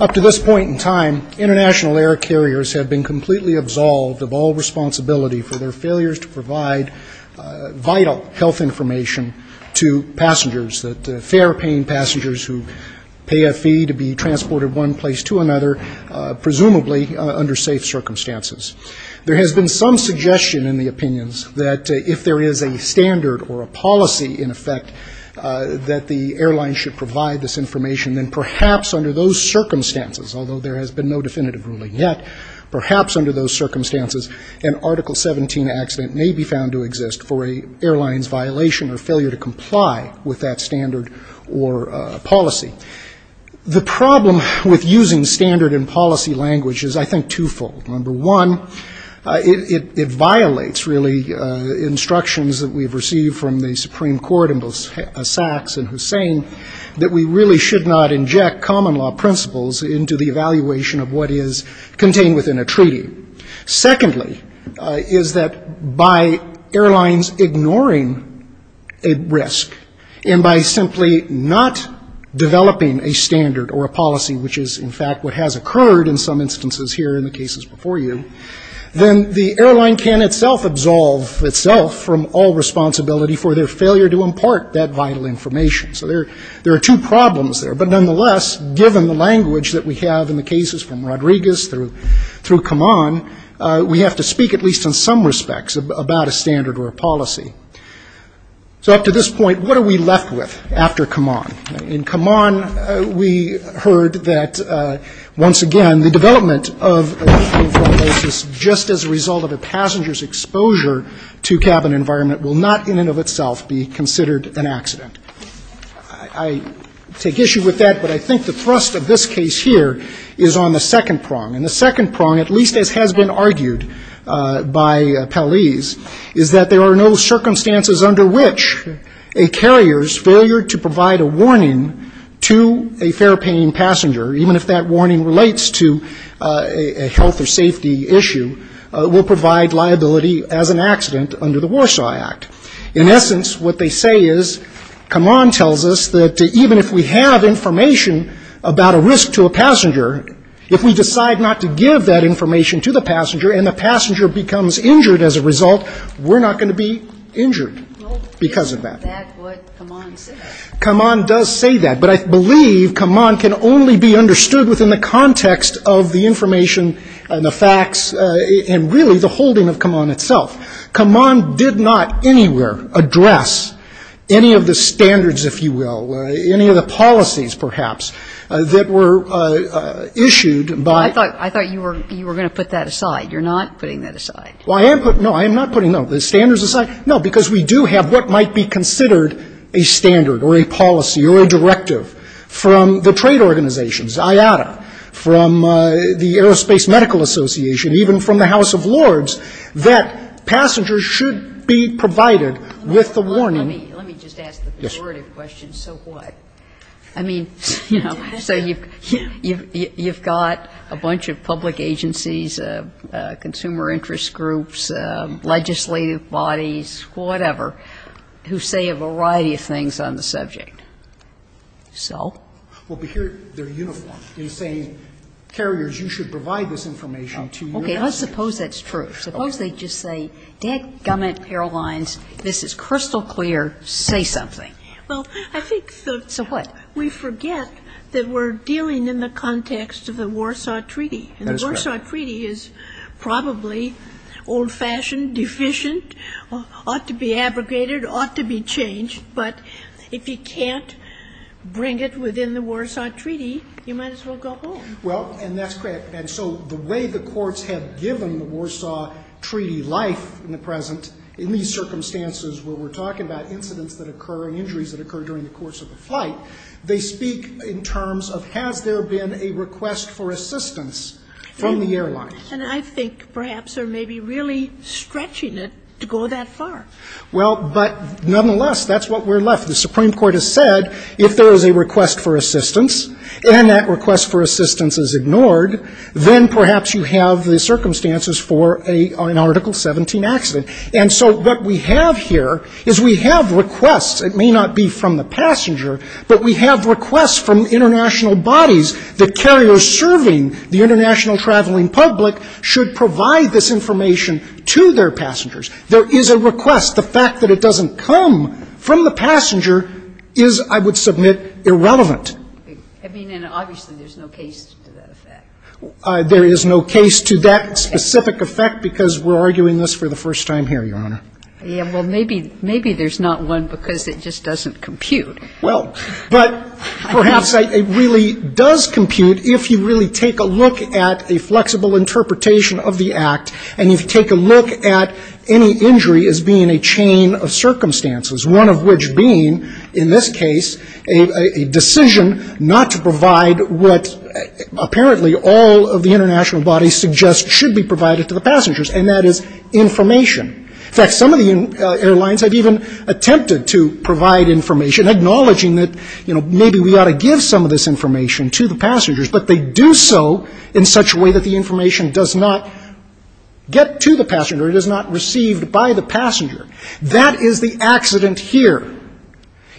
Up to this point in time, international air carriers have been completely absolved of all responsibility for their failures to provide vital health information to passengers, fair paying passengers who pay a fee to be transported from one place to another, presumably under safe circumstances. There has been some suggestion in the opinions that if there is a standard or a policy in effect that the airline should provide this information, then perhaps under those circumstances, although there has been no definitive ruling yet, perhaps under those circumstances an Article 17 accident may be found to exist for an airline's violation or failure to comply with that standard or policy. The problem with using standard and policy language is, I think, twofold. Number one, it violates, really, instructions that we have received from the Supreme Court in both Sachs and Hussein that we really should not inject common law principles into the evaluation of what is contained within a treaty. Secondly, is that by airlines ignoring a risk and by simply not developing a standard or a policy, which is in fact what has occurred in some instances here in the cases before you, then the airline can itself absolve itself from all responsibility for their failure to impart that vital information. So there are two problems there. But nonetheless, given the language that we have in the cases from Rodriguez through Kaman, we have to speak at least in some respects about a standard or a policy. So up to this point, what are we left with after Kaman? In Kaman, we heard that, once again, the development of a two-cabin flight license just as a result of a passenger's exposure to cabin environment will not in and of itself be considered an accident. I take issue with that, but I think the thrust of this case here is on the second prong. And the second prong, at least as has been argued by Paliz, is that there are no circumstances under which a carrier's failure to provide a warning to a fair-paying passenger, even if that warning relates to a health or safety issue, will provide liability as an accident under the Warsaw Act. In essence, what they say is Kaman tells us that even if we have information about a risk to a passenger, if we decide not to give that information to the passenger and the passenger becomes injured as a result, we're not going to be injured because of that. That's what Kaman says. Kaman does say that. But I believe Kaman can only be understood within the context of the information and the facts and really the holding of Kaman itself. Kaman did not anywhere address any of the standards, if you will, any of the policies, perhaps, that were issued by the Fed. I thought you were going to put that aside. You're not putting that aside. Well, I am putting no, I am not putting no, the standards aside? No, because we do have what might be considered a standard or a policy or a directive from the trade organizations, IATA, from the Aerospace Medical Association, even from the House of Lords, that passengers should be provided with the warning. Let me just ask the pejorative question. So what? I mean, you know, so you've got a bunch of public agencies, consumer interest groups, legislative bodies, whatever, who say a variety of things on the subject. So? Well, but here they're uniform in saying, carriers, you should provide this information to your passengers. Okay. I suppose that's true. Suppose they just say, dadgummit, airlines, this is crystal clear, say something. Well, I think the So what? We forget that we're dealing in the context of the Warsaw Treaty. And the Warsaw Treaty is probably old-fashioned, deficient, ought to be abrogated, ought to be changed. But if you can't bring it within the Warsaw Treaty, you might as well go home. Well, and that's correct. And so the way the courts have given the Warsaw Treaty life in the present, in these that occur during the course of a flight, they speak in terms of, has there been a request for assistance from the airlines? And I think perhaps they're maybe really stretching it to go that far. Well, but nonetheless, that's what we're left. The Supreme Court has said, if there is a request for assistance, and that request for assistance is ignored, then perhaps you have the circumstances for an Article 17 accident. And so what we have here is we have requests. It may not be from the passenger, but we have requests from international bodies that carriers serving the international traveling public should provide this information to their passengers. There is a request. The fact that it doesn't come from the passenger is, I would submit, irrelevant. I mean, and obviously there's no case to that effect. There is no case to that specific effect because we're arguing this for the first time here, Your Honor. Yeah, well, maybe there's not one because it just doesn't compute. Well, but perhaps it really does compute if you really take a look at a flexible interpretation of the Act, and you take a look at any injury as being a chain of circumstances, one of which being, in this case, a decision not to provide what apparently all of the international bodies suggest should be provided to the passengers, and that is information. In fact, some of the airlines have even attempted to provide information, acknowledging that, you know, maybe we ought to give some of this information to the passengers, but they do so in such a way that the information does not get to the passenger. It is not received by the passenger. That is the accident here.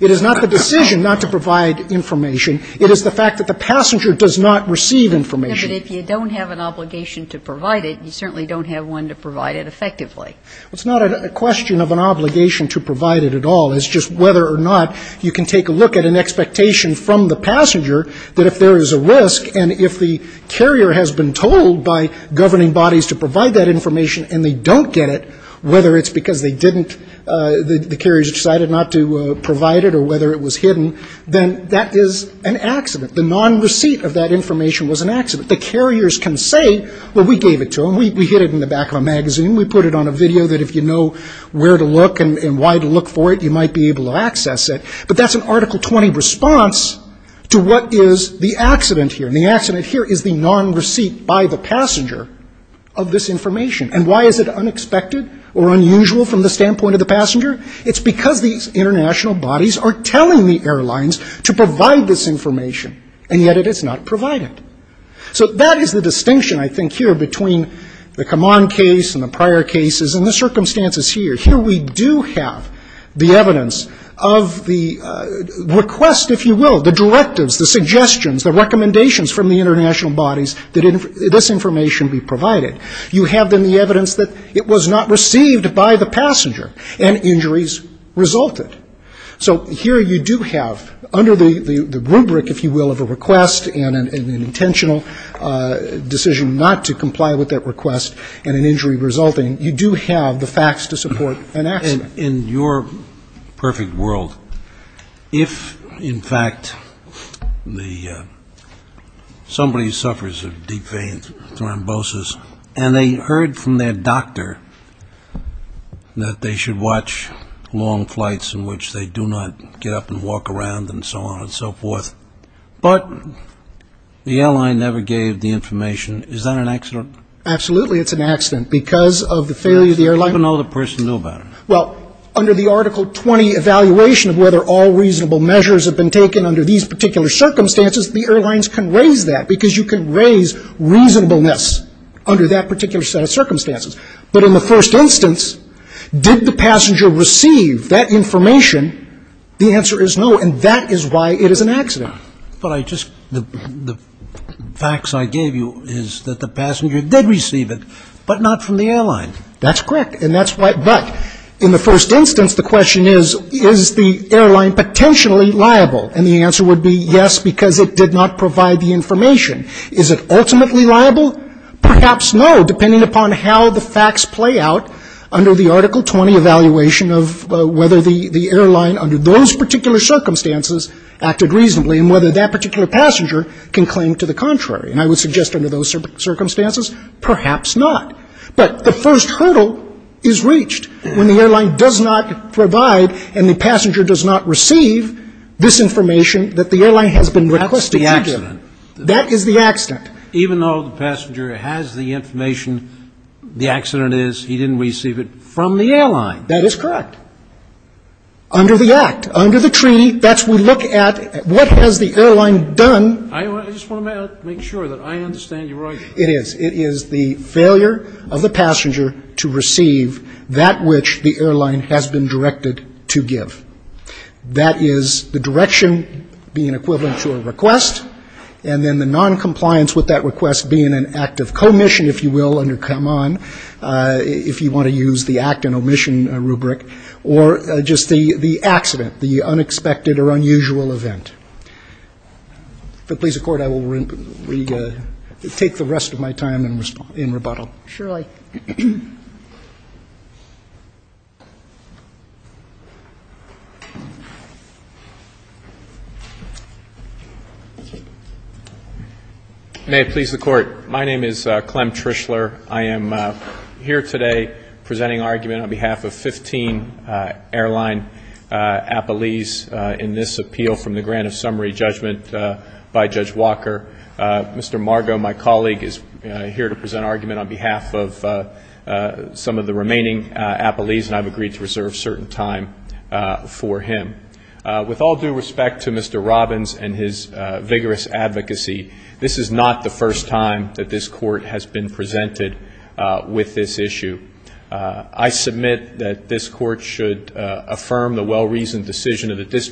It is not the decision not to provide information. It is the fact that the passenger does not receive information. No, but if you don't have an obligation to provide it, you certainly don't have one to provide it effectively. It's not a question of an obligation to provide it at all. It's just whether or not you can take a look at an expectation from the passenger that if there is a risk and if the carrier has been told by governing bodies to provide that information and they don't get it, whether it's because they didn't, the carriers decided not to provide it or whether it was hidden, then that is an accident. The non-receipt of that information was an accident. The carriers can say, well, we gave it to them. We hid it in the back of a magazine. We put it on a video that if you know where to look and why to look for it, you might be able to access it. But that's an Article 20 response to what is the accident here. And the accident here is the non-receipt by the passenger of this information. And why is it unexpected or unusual from the standpoint of the passenger? It's because these international bodies are telling the airlines to provide this information, and yet it is not provided. So that is the distinction, I think, here between the Kaman case and the prior cases and the circumstances here. Here we do have the evidence of the request, if you will, the directives, the suggestions, the recommendations from the international bodies that this information be provided. You have, then, the evidence that it was not received by the passenger and injuries resulted. So here you do have, under the rubric, if you will, of a request and an intentional decision not to comply with that request and an injury resulting, you do have the facts to support an accident. In your perfect world, if, in fact, somebody suffers a deep vein thrombosis and they heard from their doctor that they should watch long flights in which they do not get up and walk around and so on and so forth, but the airline never gave the information, is that an accident? Absolutely, it's an accident because of the failure of the airline. What can the person do about it? Well, under the Article 20 evaluation of whether all reasonable measures have been taken under these particular circumstances, the airlines can raise that because you can raise reasonableness under that particular set of circumstances. But in the first instance, did the passenger receive that information? The answer is no, and that is why it is an accident. But I just, the facts I gave you is that the passenger did receive it, but not from the airline. That's correct. And that's why, but in the first instance, the question is, is the airline potentially liable? And the answer would be yes, because it did not provide the information. Is it ultimately liable? Perhaps no, depending upon how the facts play out under the Article 20 evaluation of whether the airline under those particular circumstances acted reasonably and whether that particular passenger can claim to the contrary. And I would suggest under those circumstances, perhaps not. But the first hurdle is reached. When the airline does not provide and the passenger does not receive, this is the information that the airline has been requested to give. That's the accident. That is the accident. Even though the passenger has the information, the accident is he didn't receive it from the airline. That is correct. Under the Act, under the treaty, that's when we look at what has the airline done. I just want to make sure that I understand you right. It is. It is the failure of the passenger to receive that which the airline has been directed to give. That is the direction being equivalent to a request and then the noncompliance with that request being an act of commission, if you will, under come on, if you want to use the act and omission rubric, or just the accident, the unexpected or unusual event. If it please the Court, I will take the rest of my time in rebuttal. Surely. May it please the Court. My name is Clem Trishler. I am here today presenting argument on behalf of 15 airline appellees in this appeal from the grant of summary judgment by Judge Walker. Mr. Margo, my colleague, is here to present argument on behalf of some of the remaining appellees, and I have agreed to reserve certain time for him. With all due respect to Mr. Robbins and his vigorous advocacy, this is not the first time that this Court has been presented with this issue. I submit that this Court should affirm the well-reasoned decision of the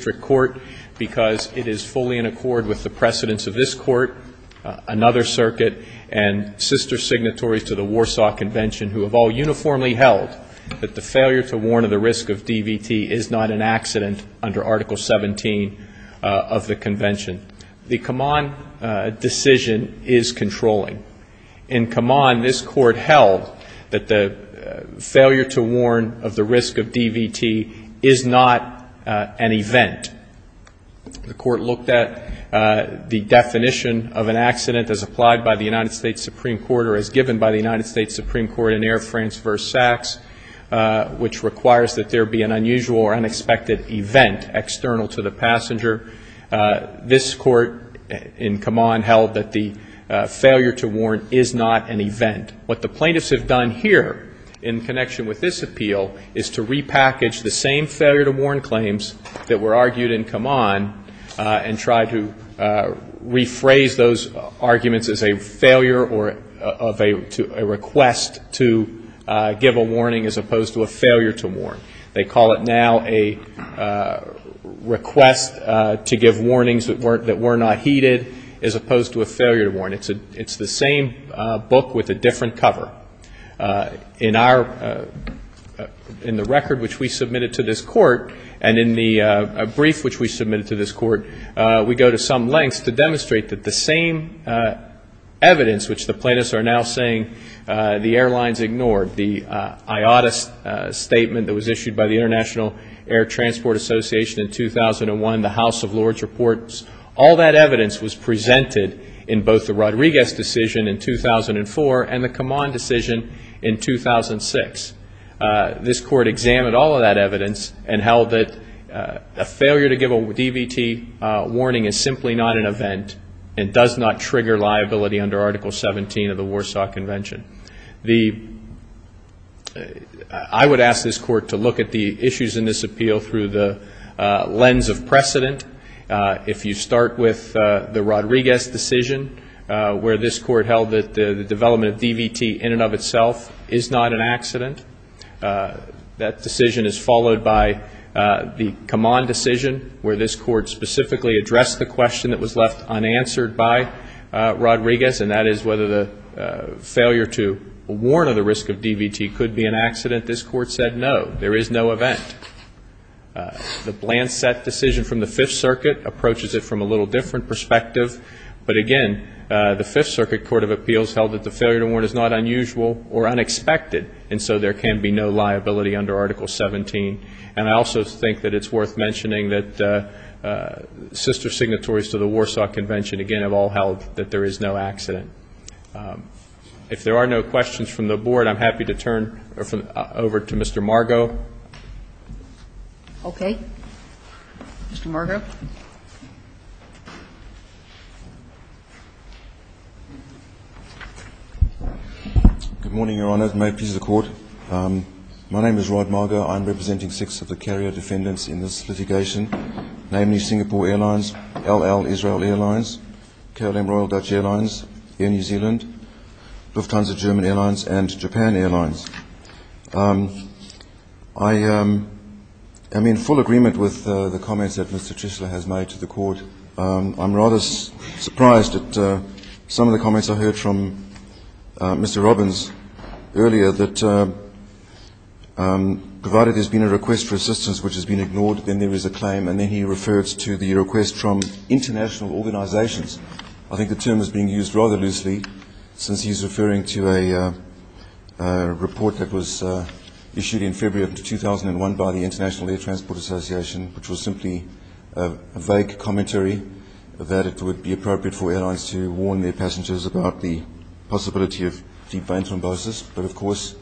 another circuit and sister signatories to the Warsaw Convention who have all uniformly held that the failure to warn of the risk of DVT is not an accident under Article 17 of the Convention. The come on decision is controlling. In come on, this Court held that the failure to warn of the risk of DVT is not an event. The Court looked at the definition of an accident as applied by the United States Supreme Court or as given by the United States Supreme Court in Air France v. Saks, which requires that there be an unusual or unexpected event external to the passenger. This Court in come on held that the failure to warn is not an event. What the plaintiffs have done here in connection with this appeal is to on and try to rephrase those arguments as a failure or of a request to give a warning as opposed to a failure to warn. They call it now a request to give warnings that were not heeded as opposed to a failure to warn. It's the same book with a different cover. In the record which we submitted to this Court and in the brief which we submitted to this Court, we go to some lengths to demonstrate that the same evidence which the plaintiffs are now saying the airlines ignored, the IATA statement that was issued by the International Air Transport Association in 2001, the House of Lords reports, all that evidence was presented in both the in 2006. This Court examined all of that evidence and held that a failure to give a DVT warning is simply not an event and does not trigger liability under Article 17 of the Warsaw Convention. I would ask this Court to look at the issues in this appeal through the lens of precedent. If you start with the Rodriguez decision where this Court held that the DVT warning of itself is not an accident, that decision is followed by the Kaman decision where this Court specifically addressed the question that was left unanswered by Rodriguez, and that is whether the failure to warn of the risk of DVT could be an accident. This Court said no, there is no event. The Blansett decision from the Fifth Circuit approaches it from a little different perspective, but again, the Fifth Circuit Court of Appeals held that failure to warn is not unusual or unexpected, and so there can be no liability under Article 17. And I also think that it's worth mentioning that sister signatories to the Warsaw Convention, again, have all held that there is no accident. If there are no questions from the Board, I'm happy to turn over to Mr. Margot. Okay. Mr. Margot. Good morning, Your Honor. May it please the Court. My name is Rod Margot. I'm representing six of the carrier defendants in this litigation, namely Singapore Airlines, LL Israel Airlines, KLM Royal Dutch Airlines, Air New Zealand, Lufthansa I'm here to speak on behalf of the carrier defendants. I am in full agreement with the comments that Mr. Chisholm has made to the Court. I'm rather surprised at some of the comments I heard from Mr. Robbins earlier that provided there's been a request for assistance which has been ignored, then there is a claim, and then he refers to the request from international air transport association which was simply a vague commentary that it would be appropriate for airlines to warn their passengers about the possibility of deep vein thrombosis, but of course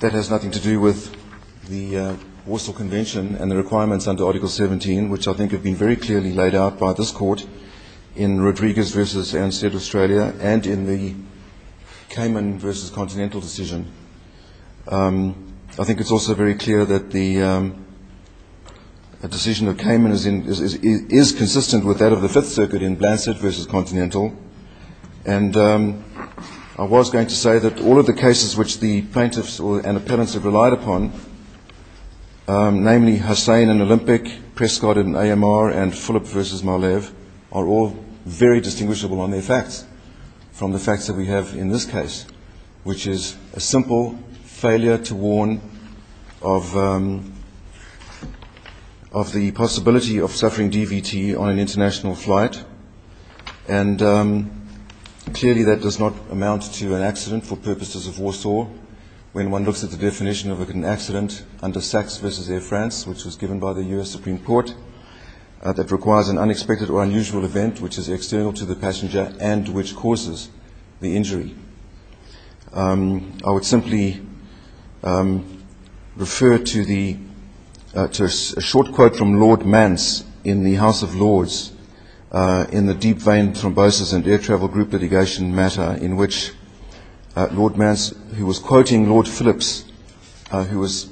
that has nothing to do with the Warsaw Convention and the requirements under Article 17 which I think have been very clearly laid out by this litigation. I think it's also very clear that the decision that came in is consistent with that of the Fifth Circuit in Blanchard v. Continental, and I was going to say that all of the cases which the plaintiffs and appellants have relied upon, namely Hussein in Olympic, Prescott in AMR, and Phillip v. Malev, are all very distinguishable on their case, which is a simple failure to warn of the possibility of suffering DVT on an international flight, and clearly that does not amount to an accident for purposes of Warsaw when one looks at the definition of an accident under SACS v. Air France which was given by the U.S. Supreme Court that requires an unexpected or unusual event which is an accident. I would simply refer to a short quote from Lord Mance in the House of Lords in the deep vein thrombosis and air travel group litigation matter in which Lord Mance who was quoting Lord Phillips who was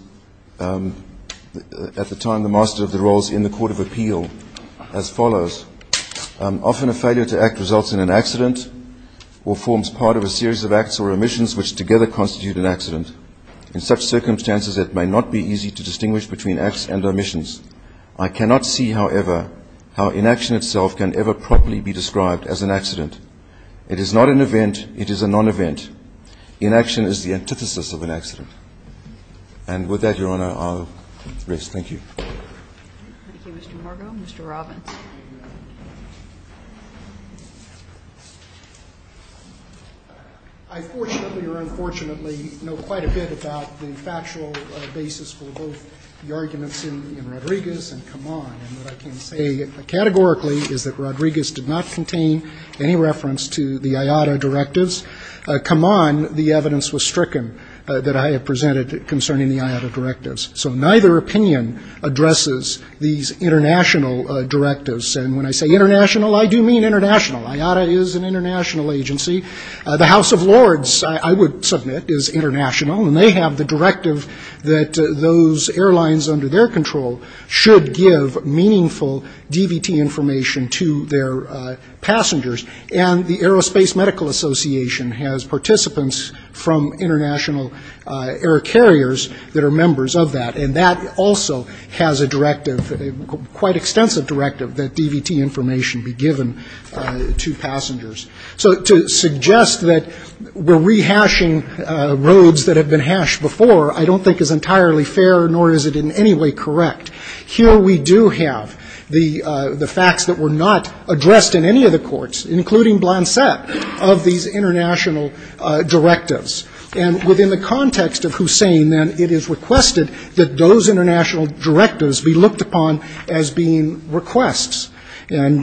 at the time the master of the roles in the Court of Appeal as follows, often a failure to act results in an accident or forms part of a series of acts or omissions which together constitute an accident. In such circumstances it may not be easy to distinguish between acts and omissions. I cannot see, however, how inaction itself can ever properly be described as an accident. It is not an event. It is a non-event. Inaction is the antithesis of an accident. And with that, Your Honor, I'll rest. Thank you. Thank you, Mr. Margo. Mr. Robbins. I fortunately or unfortunately know quite a bit about the factual basis for both the arguments in Rodriguez and Kaman. And what I can say categorically is that Rodriguez did not contain any reference to the IATA directives. Kaman, the evidence was stricken that I had presented concerning the IATA directives. So neither opinion addresses these international directives. And when I say international, I do mean international. IATA is an international agency. The House of Lords, I would submit, is international. And they have the directive that those airlines under their control should give meaningful DVT information to their passengers. And the Aerospace Medical Association has participants from international air carriers that are members of that. And that also has a directive, quite extensive directive, that suggests that we're rehashing roads that have been hashed before, I don't think is entirely fair, nor is it in any way correct. Here we do have the facts that were not addressed in any of the courts, including Blancet, of these international directives. And within the context of Hussein, then, it is requested that those international directives be looked at. And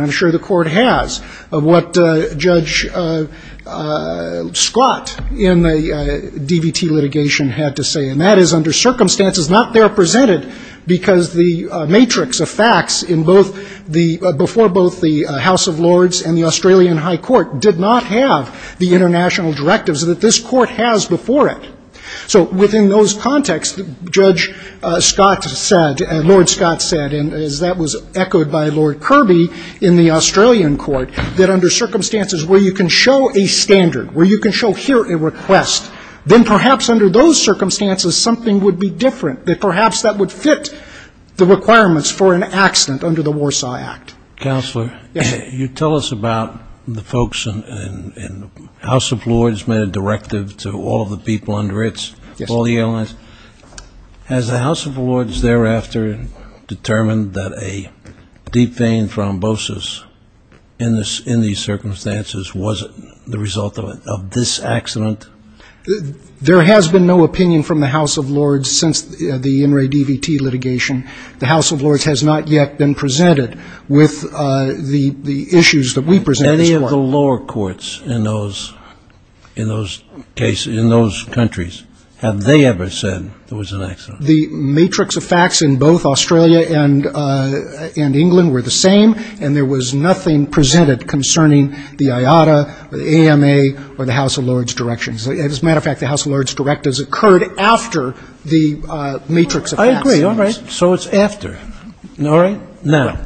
I'm sure the Court has, of what Judge Scott in the DVT litigation had to say. And that is under circumstances not there presented because the matrix of facts in both the, before both the House of Lords and the Australian High Court did not have the international directives that this Court has before it. So within those contexts, Judge Scott said, Lord Scott said, and as that was echoed by Lord Kirby in the Australian Court, that under circumstances where you can show a standard, where you can show here a request, then perhaps under those circumstances something would be different, that perhaps that would fit the requirements for an accident under the Warsaw Act. Counselor, you tell us about the folks in the House of Lords made a directive to all of the people under it, all the airlines. Has the House of Lords thereafter determined that a deep vein thrombosis in these circumstances wasn't the result of this accident? There has been no opinion from the House of Lords since the NRA DVT litigation. The House of Lords has not yet been presented with the issues that we present in this Court. Any of the lower courts in those, in those cases, in those countries, have they ever said there was an accident? The matrix of facts in both Australia and England were the same, and there was nothing presented concerning the IATA or the AMA or the House of Lords directions. As a matter of fact, the House of Lords directives occurred after the matrix of facts. I agree. All right. So it's after. All right. Now,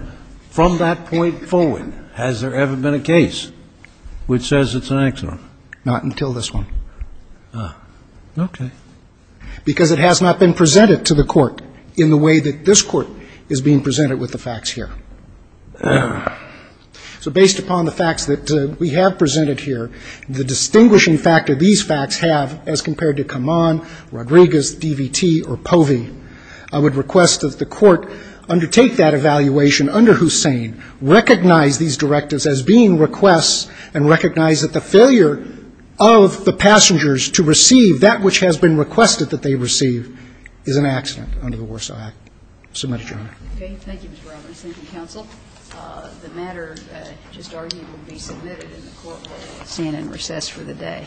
from that point forward, has there ever been a case which says it's an accident? Not until this one. Ah. Okay. Because it has not been presented to the Court in the way that this Court is being presented with the facts here. So based upon the facts that we have presented here, the distinguishing factor these facts have as compared to Kaman, Rodriguez, DVT, or POVI, I would request that the Court undertake that evaluation under Hussain, recognize these directives as being requests, and recognize that the failure of the passengers to receive that which has been requested that they receive is an accident under the Warsaw Act. Submit it, Your Honor. Okay. Thank you, Mr. Roberts. Thank you, counsel. The matter just argued will be submitted in the Courtroom. Stand in recess for the day. Thank you, Your Honor.